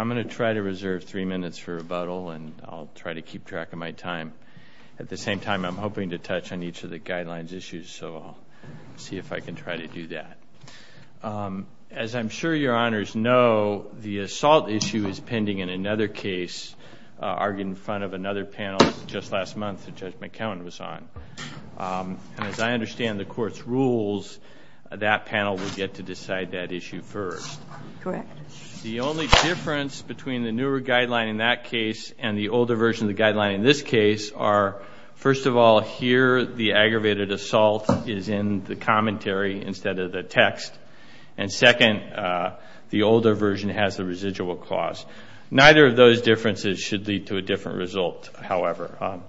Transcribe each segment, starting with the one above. I'm going to try to reserve three minutes for rebuttal and I'll try to keep track of my time. At the same time, I'm hoping to touch on each of the guidelines issues, so I'll see if I can try to do that. As I'm sure your honors know, the assault issue is pending in another case argued in front of another panel just last month that Judge McKeown was on. As I understand the court's rules, that panel will get to decide that issue first. The only difference between the newer guideline in that case and the older version of the guideline in this case are, first of all, here the aggravated assault is in the commentary instead of the text, and second, the older version has the residual clause. Neither of those differences should lead to a different result, however.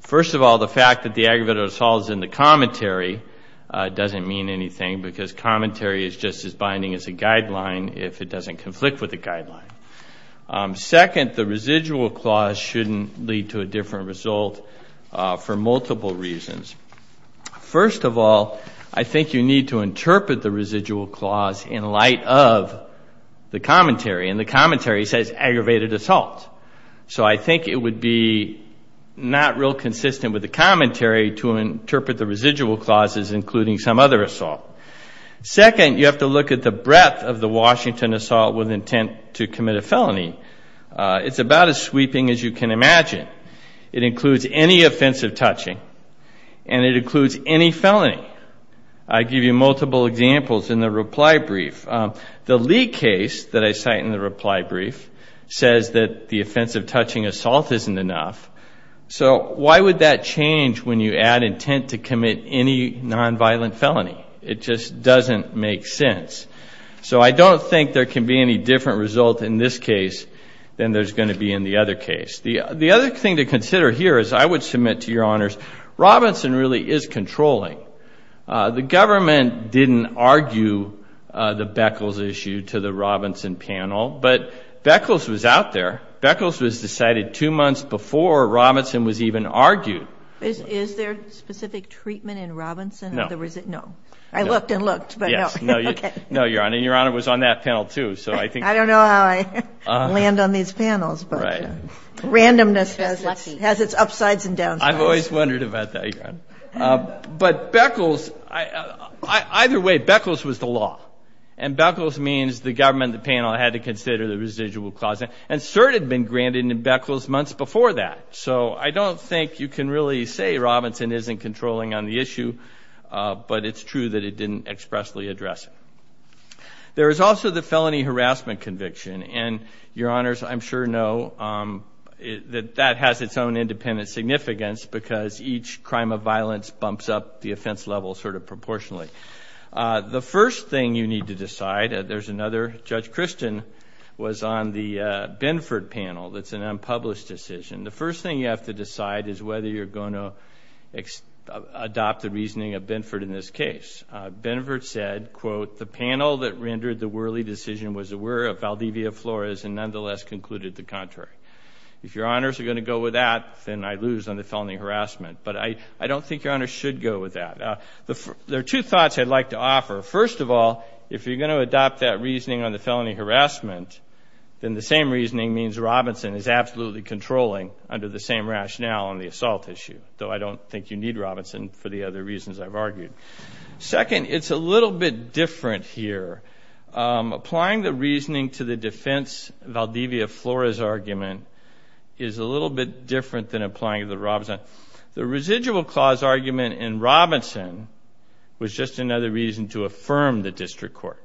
First of all, the fact that the aggravated assault is in the commentary doesn't mean anything because commentary is just as binding as a guideline if it doesn't conflict with the guideline. Second, the residual clause shouldn't lead to a different result for multiple reasons. First of all, I think you need to interpret the residual clause in light of the commentary, and the commentary says aggravated assault, so I think it would be not real consistent with the commentary to interpret the residual clauses including some other assault. Second, you have to look at the breadth of the Washington assault with intent to commit a felony. It's about as sweeping as you can imagine. It includes any offensive touching, and it includes any felony. I give you multiple examples in the reply brief. The Lee case that I cite in the reply brief says that the offensive touching assault isn't enough, so why would that change when you add intent to commit any nonviolent felony? It just doesn't make sense. So I don't think there can be any different result in this case than there's going to be in the other case. The other thing to consider here is I would submit to Your Honors, Robinson really is controlling. The government didn't argue the Beckles issue to the Robinson panel, but Beckles was out there. Beckles was decided two months before Robinson was even argued. Is there specific treatment in Robinson? No. I looked and looked, but no. No, Your Honor. And Your Honor was on that panel too. I don't know how I land on these panels, but randomness has its upsides and downsides. I've always wondered about that, Your Honor. But either way, Beckles was the law. And Beckles means the government and the panel had to consider the residual clauses. And cert had been granted in Beckles months before that. So I don't think you can really say Robinson isn't controlling on the issue, but it's true that it didn't expressly address it. There is also the felony harassment conviction. And Your Honors, I'm sure know that that has its own independent significance because each crime of violence bumps up the offense level sort of proportionally. The first thing you need to decide, there's another, Judge Christian was on the Benford panel. That's an unpublished decision. The first thing you have to decide is whether you're going to adopt the reasoning of Benford in this case. Benford said, quote, the panel that rendered the Worley decision was aware of Valdivia Flores and nonetheless concluded the contrary. If Your Honors are going to go with that, then I lose on the felony harassment. But I don't think Your Honors should go with that. There are two thoughts I'd like to offer. First of all, if you're going to adopt that reasoning on the felony harassment, then the same reasoning means Robinson is absolutely controlling under the same rationale on the assault issue, though I don't think you need to do that. Second, it's a little bit different here. Applying the reasoning to the defense Valdivia Flores argument is a little bit different than applying to the Robinson. The residual clause argument in Robinson was just another reason to affirm the district court.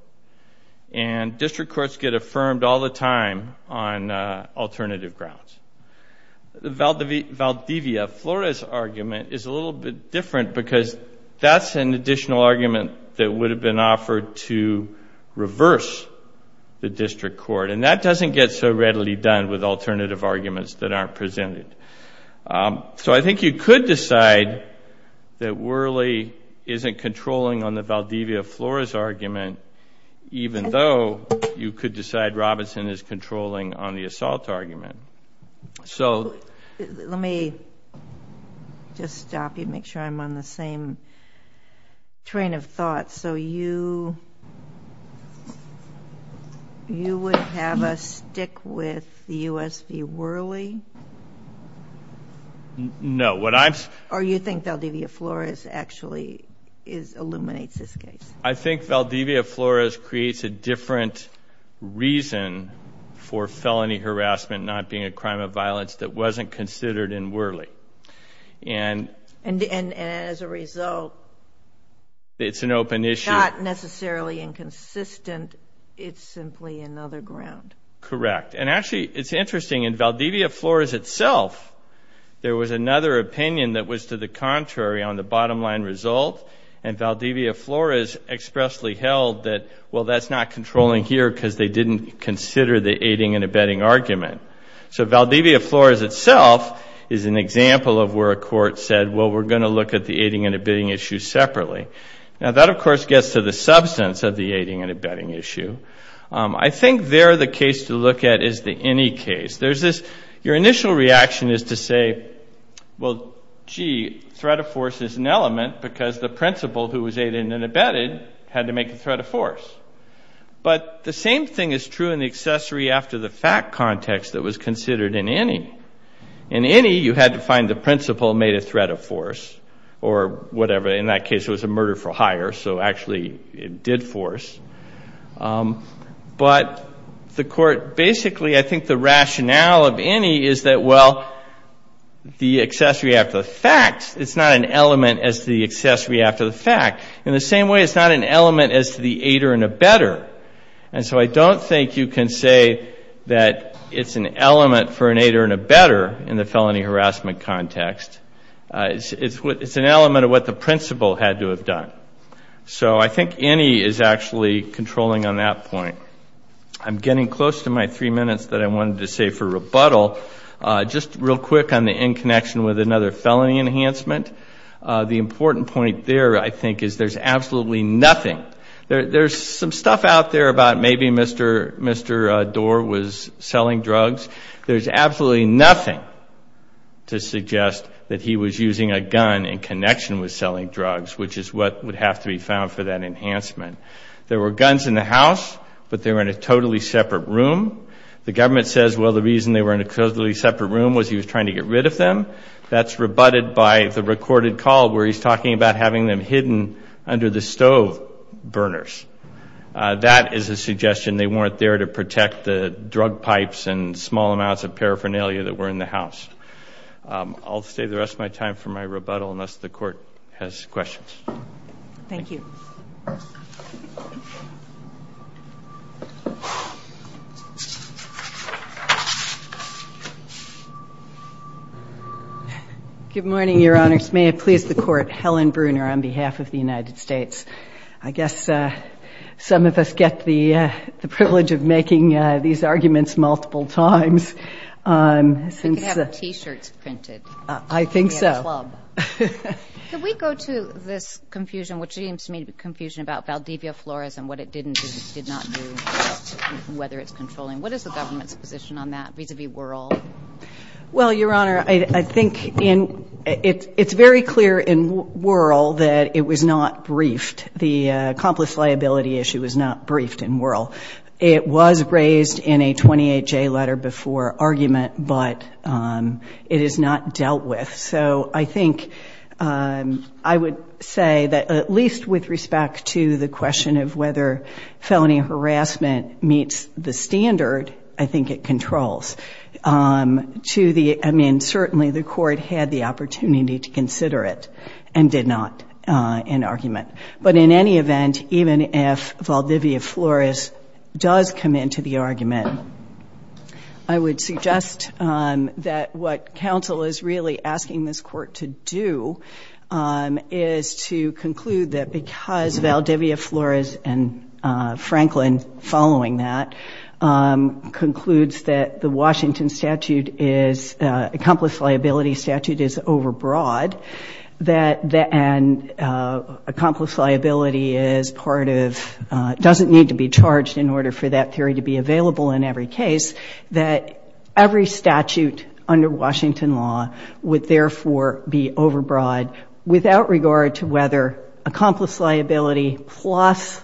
And district courts get affirmed all the time on alternative grounds. The Valdivia Flores argument is a additional argument that would have been offered to reverse the district court. And that doesn't get so readily done with alternative arguments that aren't presented. So I think you could decide that Worley isn't controlling on the Valdivia Flores argument even though you could decide Robinson is controlling on the assault argument. Let me just stop you and make sure I'm on the same train of thought. So you would have us stick with the U.S. v. Worley? No. Or you think Valdivia Flores actually illuminates this case? I think Valdivia Flores creates a different reason for felony harassment not being a crime of violence that wasn't considered in Worley. And as a result, it's not necessarily inconsistent. It's simply another ground. Correct. And actually, it's interesting. In Valdivia Flores itself, there was another opinion that was to the contrary on the bottom line result. And Valdivia Flores expressly held that, well, that's not controlling here because they didn't consider the aiding and abetting argument. So Valdivia Flores itself is an example of where a court said, well, we're going to look at the aiding and abetting issue separately. Now, that, of course, gets to the substance of the aiding and abetting issue. I think there the case to look at is the INI case. Your initial reaction is to say, well, gee, threat of force is an element because the principal who was aided and abetted had to make a threat of force. But the same thing is true in the accessory after the fact context that was considered in INI. In INI, you had to find the principal made a threat of force or whatever. In that case, it was a murder for hire. So actually, it did force. But the court basically, I think the rationale of INI is that, well, the accessory after the fact, it's not an element as to the accessory after the fact. In the same way, it's not an element as to the aider and abetter. And so I don't think you can say that it's an element for an aider and abetter in the felony harassment context. It's an element of what the principal had to have done. So I think INI is actually controlling on that point. I'm getting close to my three minutes that I wanted to save for rebuttal. Just real quick on the in connection with another felony enhancement. The important point there, I think, is there's absolutely nothing. There's some stuff out there about maybe Mr. Doar was selling drugs. There's absolutely nothing to suggest that he was using a gun in connection with selling drugs, which is what would have to be found for that enhancement. There were guns in the house, but they were in a totally separate room. The government says, well, the reason they were in a totally separate room was he was trying to get rid of them. That's rebutted by the recorded call where he's talking about having them hidden under the stove burners. That is a suggestion they weren't there to protect the drug pipes and small amounts of paraphernalia that were in the house. I'll save the rest of my time for my rebuttal unless the court has questions. Thank you. Good morning, Your Honors. May it please the court, Helen Bruner on behalf of the United States. I guess some of us get the privilege of making these arguments multiple times. We could have T-shirts printed. I think so. We could be a club. Could we go to this confusion, which seems to me to be confusion about Valdivia Flores and what it did not do, whether it's controlling. What is the government's position on that vis-a-vis Wuerl? Well, Your Honor, I think it's very clear in Wuerl that it was not briefed. The accomplice liability issue was not briefed in Wuerl. It was raised in a 28-J letter before argument, but it is not dealt with. So I think I would say that at least with respect to the question of whether felony harassment meets the standard, I think it controls. I mean, certainly the court had the opportunity to consider it and did not in argument. But in any event, even if Valdivia Flores does come into the argument, I would suggest that what counsel is really asking this court to do is to conclude that because Valdivia Flores and Franklin following that concludes that the Washington statute is, the accomplice liability statute is overbroad and accomplice liability is part of, doesn't need to be charged in order for that theory to be available in every case, that every statute under Washington law would therefore be overbroad without regard to whether accomplice liability plus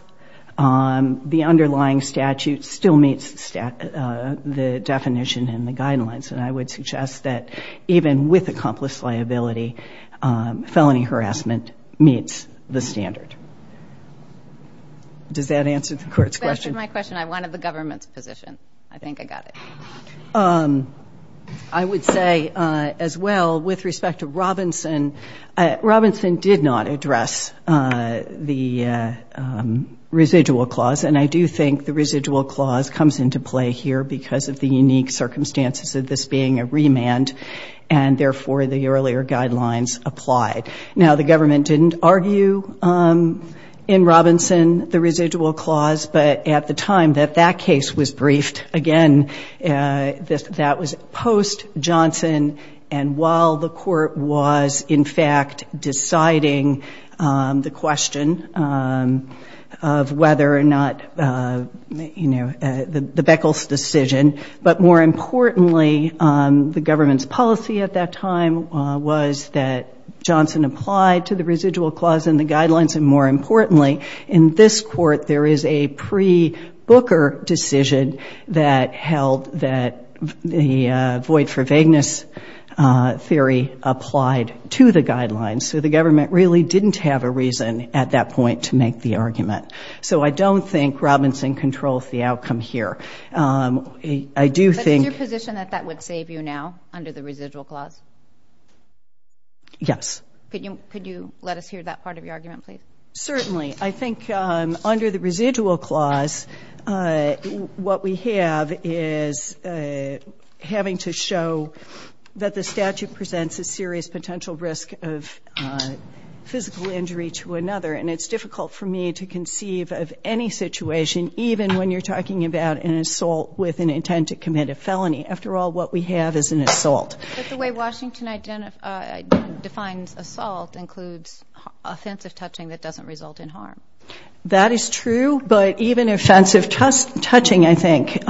the underlying statute still meets the definition in the guidelines. And I would suggest that even with accomplice liability, felony harassment meets the standard. Does that answer the court's question? That answered my question. I wanted the government's position. I think I got it. I would say as well with respect to Robinson, Robinson did not address the residual clause. And I do think the residual clause comes into play here because of the unique circumstances of this being a remand and therefore the earlier guidelines applied. Now, the government didn't argue in Robinson the residual clause, but at the time that that case was briefed, again, that was post Johnson. And while the court was, in fact, deciding the question of whether or not, you know, the Beckles decision, but more importantly, the government's policy at that time was that Johnson applied to the residual clause in the guidelines. And more importantly, in this court, there is a pre-Booker decision that held that the void for vagueness theory applied to the guidelines. So the government really didn't have a reason at that point to make the argument. So I don't think Robinson controls the outcome here. I do think. But is your position that that would save you now under the residual clause? Yes. Could you let us hear that part of your argument, please? Certainly. I think under the residual clause, what we have is having to show that the statute presents a serious potential risk of physical injury to another. And it's difficult for me to conceive of any situation, even when you're talking about an assault with an intent to commit a felony. After all, what we have is an assault. But the way Washington defines assault includes offensive touching that doesn't result in harm. That is true. But even offensive touching, I think,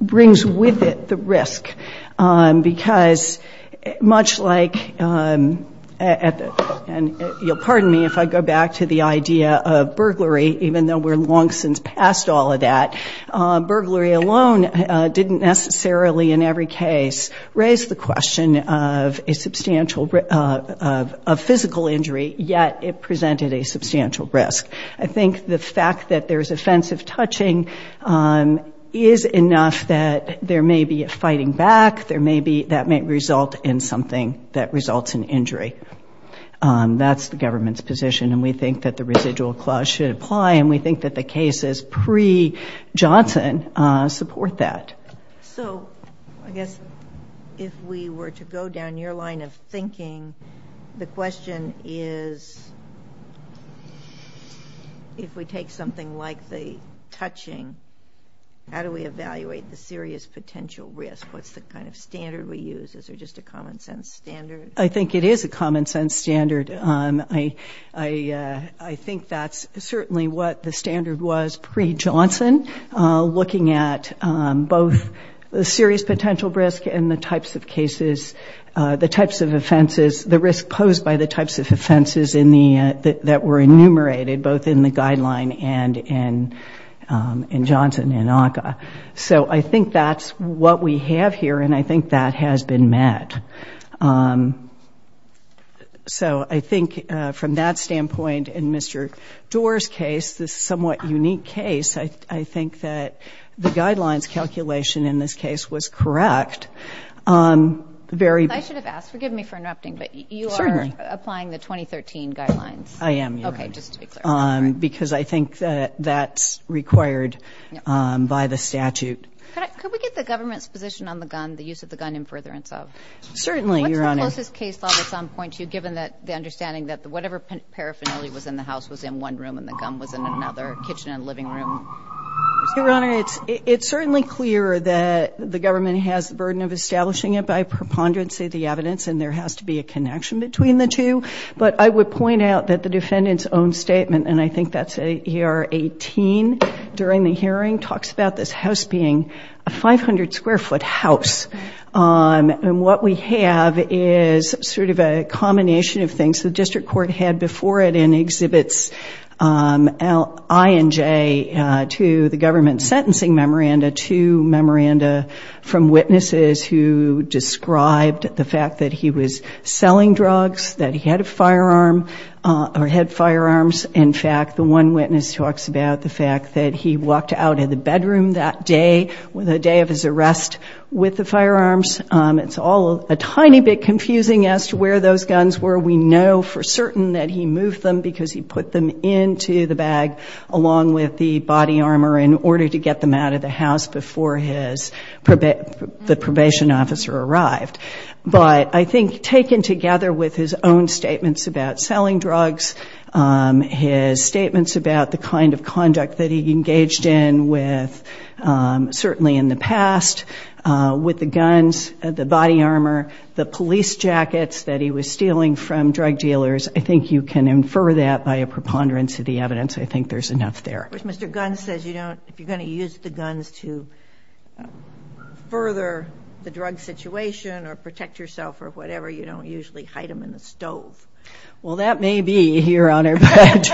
brings with it the risk. Because much like at the end, you'll pardon me if I go back to the idea of burglary, even though we're long since past all of that, burglary alone didn't necessarily in every case raise the question of physical injury, yet it presented a substantial risk. I think the fact that there's offensive touching is enough that there may be a fighting back. That may result in something that results in injury. That's the government's position. And we think that the residual clause should apply. And we think that the cases pre-Johnson support that. So I guess if we were to go down your line of thinking, the question is, if we take something like the touching, how do we evaluate the serious potential risk? What's the kind of standard we use? Is there just a common-sense standard? I think it is a common-sense standard. I think that's certainly what the standard was pre-Johnson, looking at both the serious potential risk and the types of cases, the types of offenses, the risk posed by the types of offenses that were enumerated both in the guideline and in Johnson and ACCA. So I think that's what we have here, and I think that has been met. So I think from that standpoint, in Mr. Doar's case, this somewhat unique case, I think that the guidelines calculation in this case was correct. I should have asked. Forgive me for interrupting, but you are applying the 2013 guidelines. I am. Okay, just to be clear. Because I think that that's required by the statute. Could we get the government's position on the gun, the use of the gun in furtherance of? Certainly, Your Honor. What's the closest case law that's on point to you, given the understanding that whatever paraphernalia was in the house was in one room and the gun was in another kitchen and living room? Your Honor, it's certainly clear that the government has the burden of establishing it by preponderancy of the evidence, and there has to be a connection between the two. But I would point out that the defendant's own statement, and I think that's AR 18 during the hearing, talks about this house being a 500-square-foot house. And what we have is sort of a combination of things the district court had before it in exhibits I and J to the government sentencing memoranda, to memoranda from witnesses who described the fact that he was selling drugs, that he had a firearm or had firearms. In fact, the one witness talks about the fact that he walked out of the bedroom that day, the day of his arrest, with the firearms. It's all a tiny bit confusing as to where those guns were. We know for certain that he moved them because he put them into the bag along with the body armor in order to get them out of the house before the probation officer arrived. But I think taken together with his own statements about selling drugs, his statements about the kind of conduct that he engaged in certainly in the past with the guns, the body armor, the police jackets that he was stealing from drug dealers, I think you can infer that by a preponderance of the evidence. I think there's enough there. Mr. Gunn says if you're going to use the guns to further the drug situation or protect yourself or whatever, you don't usually hide them in the stove. Well, that may be, Your Honor. But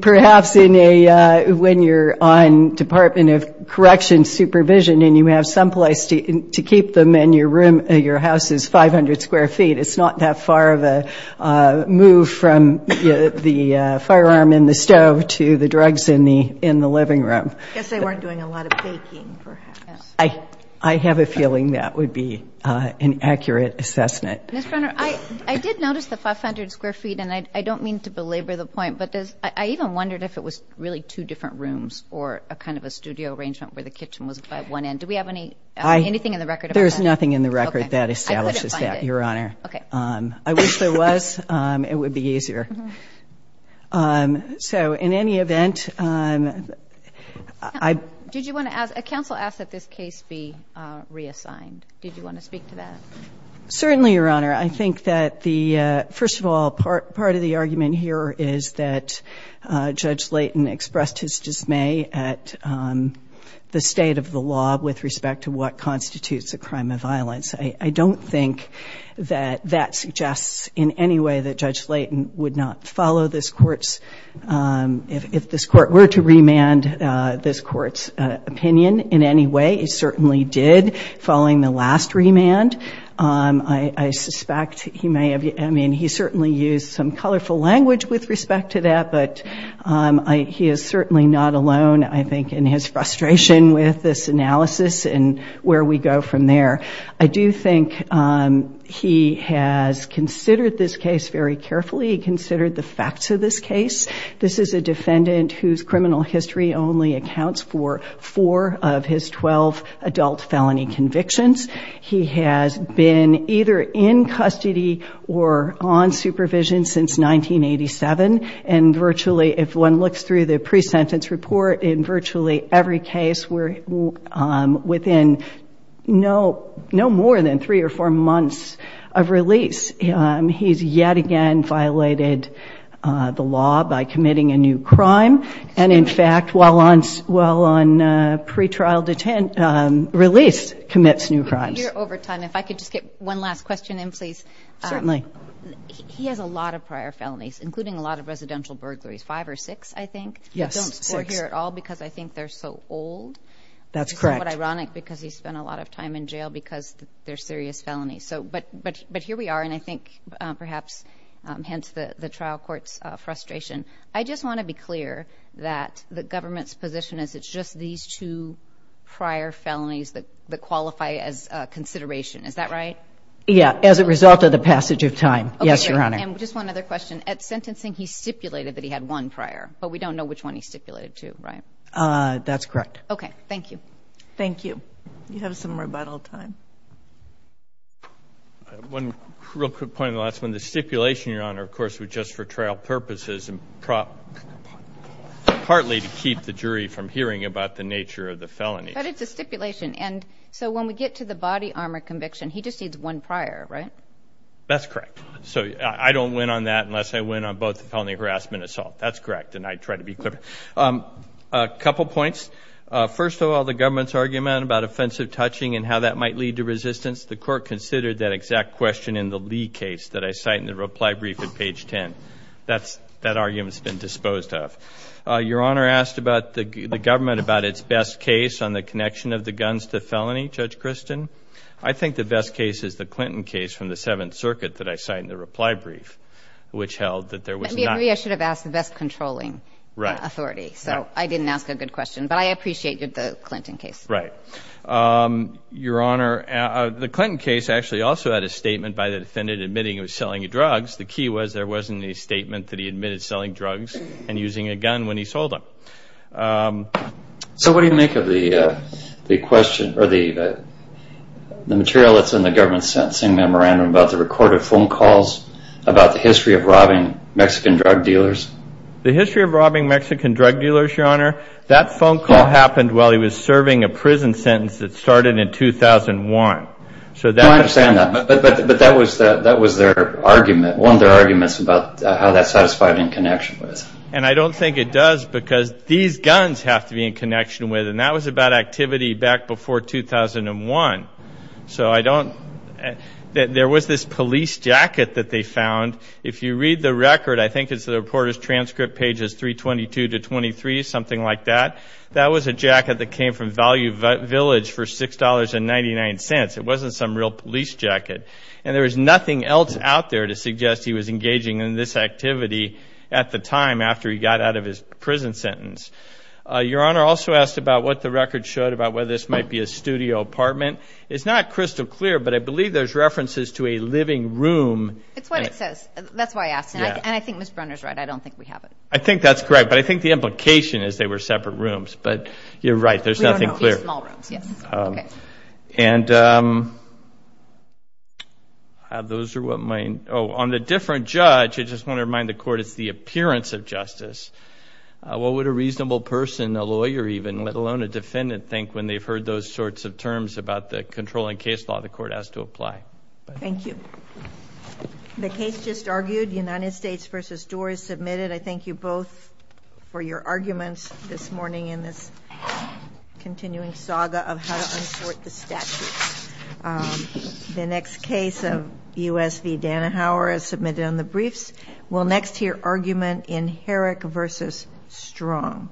perhaps when you're on Department of Corrections supervision and you have some place to keep them and your house is 500 square feet, it's not that far of a move from the firearm in the stove to the drugs in the living room. I guess they weren't doing a lot of baking, perhaps. I have a feeling that would be an accurate assessment. Ms. Brunner, I did notice the 500 square feet, and I don't mean to belabor the point, but I even wondered if it was really two different rooms or a kind of a studio arrangement where the kitchen was by one end. Do we have anything in the record about that? There's nothing in the record that establishes that, Your Honor. Okay. I wish there was. It would be easier. So in any event, I— Did you want to ask—a counsel asked that this case be reassigned. Did you want to speak to that? Certainly, Your Honor. I think that the—first of all, part of the argument here is that Judge Layton expressed his dismay at the state of the law with respect to what constitutes a crime of violence. I don't think that that suggests in any way that Judge Layton would not follow this Court's— if this Court were to remand this Court's opinion in any way. It certainly did following the last remand. I suspect he may have—I mean, he certainly used some colorful language with respect to that, but he is certainly not alone, I think, in his frustration with this analysis and where we go from there. I do think he has considered this case very carefully. He considered the facts of this case. This is a defendant whose criminal history only accounts for four of his 12 adult felony convictions. He has been either in custody or on supervision since 1987, and virtually, if one looks through the pre-sentence report, in virtually every case, we're within no more than three or four months of release. He's yet again violated the law by committing a new crime, and, in fact, while on pre-trial release, commits new crimes. Your overtime, if I could just get one last question in, please. Certainly. He has a lot of prior felonies, including a lot of residential burglaries, five or six, I think. Yes, six. They don't score here at all because I think they're so old. That's correct. Which is somewhat ironic because he spent a lot of time in jail because they're serious felonies. But here we are, and I think perhaps hence the trial court's frustration. I just want to be clear that the government's position is it's just these two prior felonies that qualify as consideration. Is that right? Yeah, as a result of the passage of time. Yes, Your Honor. And just one other question. At sentencing, he stipulated that he had one prior, but we don't know which one he stipulated to, right? That's correct. Okay. Thank you. Thank you. You have some rebuttal time. One real quick point on the last one. The stipulation, Your Honor, of course, was just for trial purposes and partly to keep the jury from hearing about the nature of the felonies. But it's a stipulation. And so when we get to the body armor conviction, he just needs one prior, right? That's correct. So I don't win on that unless I win on both felony harassment and assault. That's correct, and I try to be clear. A couple points. First of all, the government's argument about offensive touching and how that might lead to resistance, the court considered that exact question in the Lee case that I cite in the reply brief at page 10. That argument's been disposed of. Your Honor asked the government about its best case on the connection of the guns to felony, Judge Christin. I think the best case is the Clinton case from the Seventh Circuit that I cite in the reply brief, which held that there was not. Maybe I should have asked the best controlling authority. Right. So I didn't ask a good question, but I appreciated the Clinton case. Right. Your Honor, the Clinton case actually also had a statement by the defendant admitting it was selling drugs. The key was there wasn't a statement that he admitted selling drugs and using a gun when he sold them. So what do you make of the question or the material that's in the government's sentencing memorandum about the recorded phone calls about the history of robbing Mexican drug dealers? The history of robbing Mexican drug dealers, Your Honor, that phone call happened while he was serving a prison sentence that started in 2001. I understand that, but that was their argument, one of their arguments about how that satisfied in connection with. And I don't think it does because these guns have to be in connection with, and that was about activity back before 2001. So I don't, there was this police jacket that they found. If you read the record, I think it's the reporter's transcript pages 322 to 23, something like that. That was a jacket that came from Value Village for $6.99. It wasn't some real police jacket. And there was nothing else out there to suggest he was engaging in this activity at the time after he got out of his prison sentence. Your Honor also asked about what the record showed about whether this might be a studio apartment. It's not crystal clear, but I believe there's references to a living room. It's what it says. That's why I asked, and I think Ms. Brunner's right. I don't think we have it. I think that's correct. But I think the implication is they were separate rooms. But you're right. We don't know if they were small rooms, yes. Okay. And those are what my, oh, on the different judge, I just want to remind the Court, it's the appearance of justice. What would a reasonable person, a lawyer even, let alone a defendant, think when they've heard those sorts of terms about the controlling case law? The Court has to apply. Thank you. The case just argued, United States v. Doar is submitted. I thank you both for your arguments this morning in this continuing saga of how to unsort the statutes. The next case of U.S. v. Danahauer is submitted on the briefs. We'll next hear argument in Herrick v. Strong.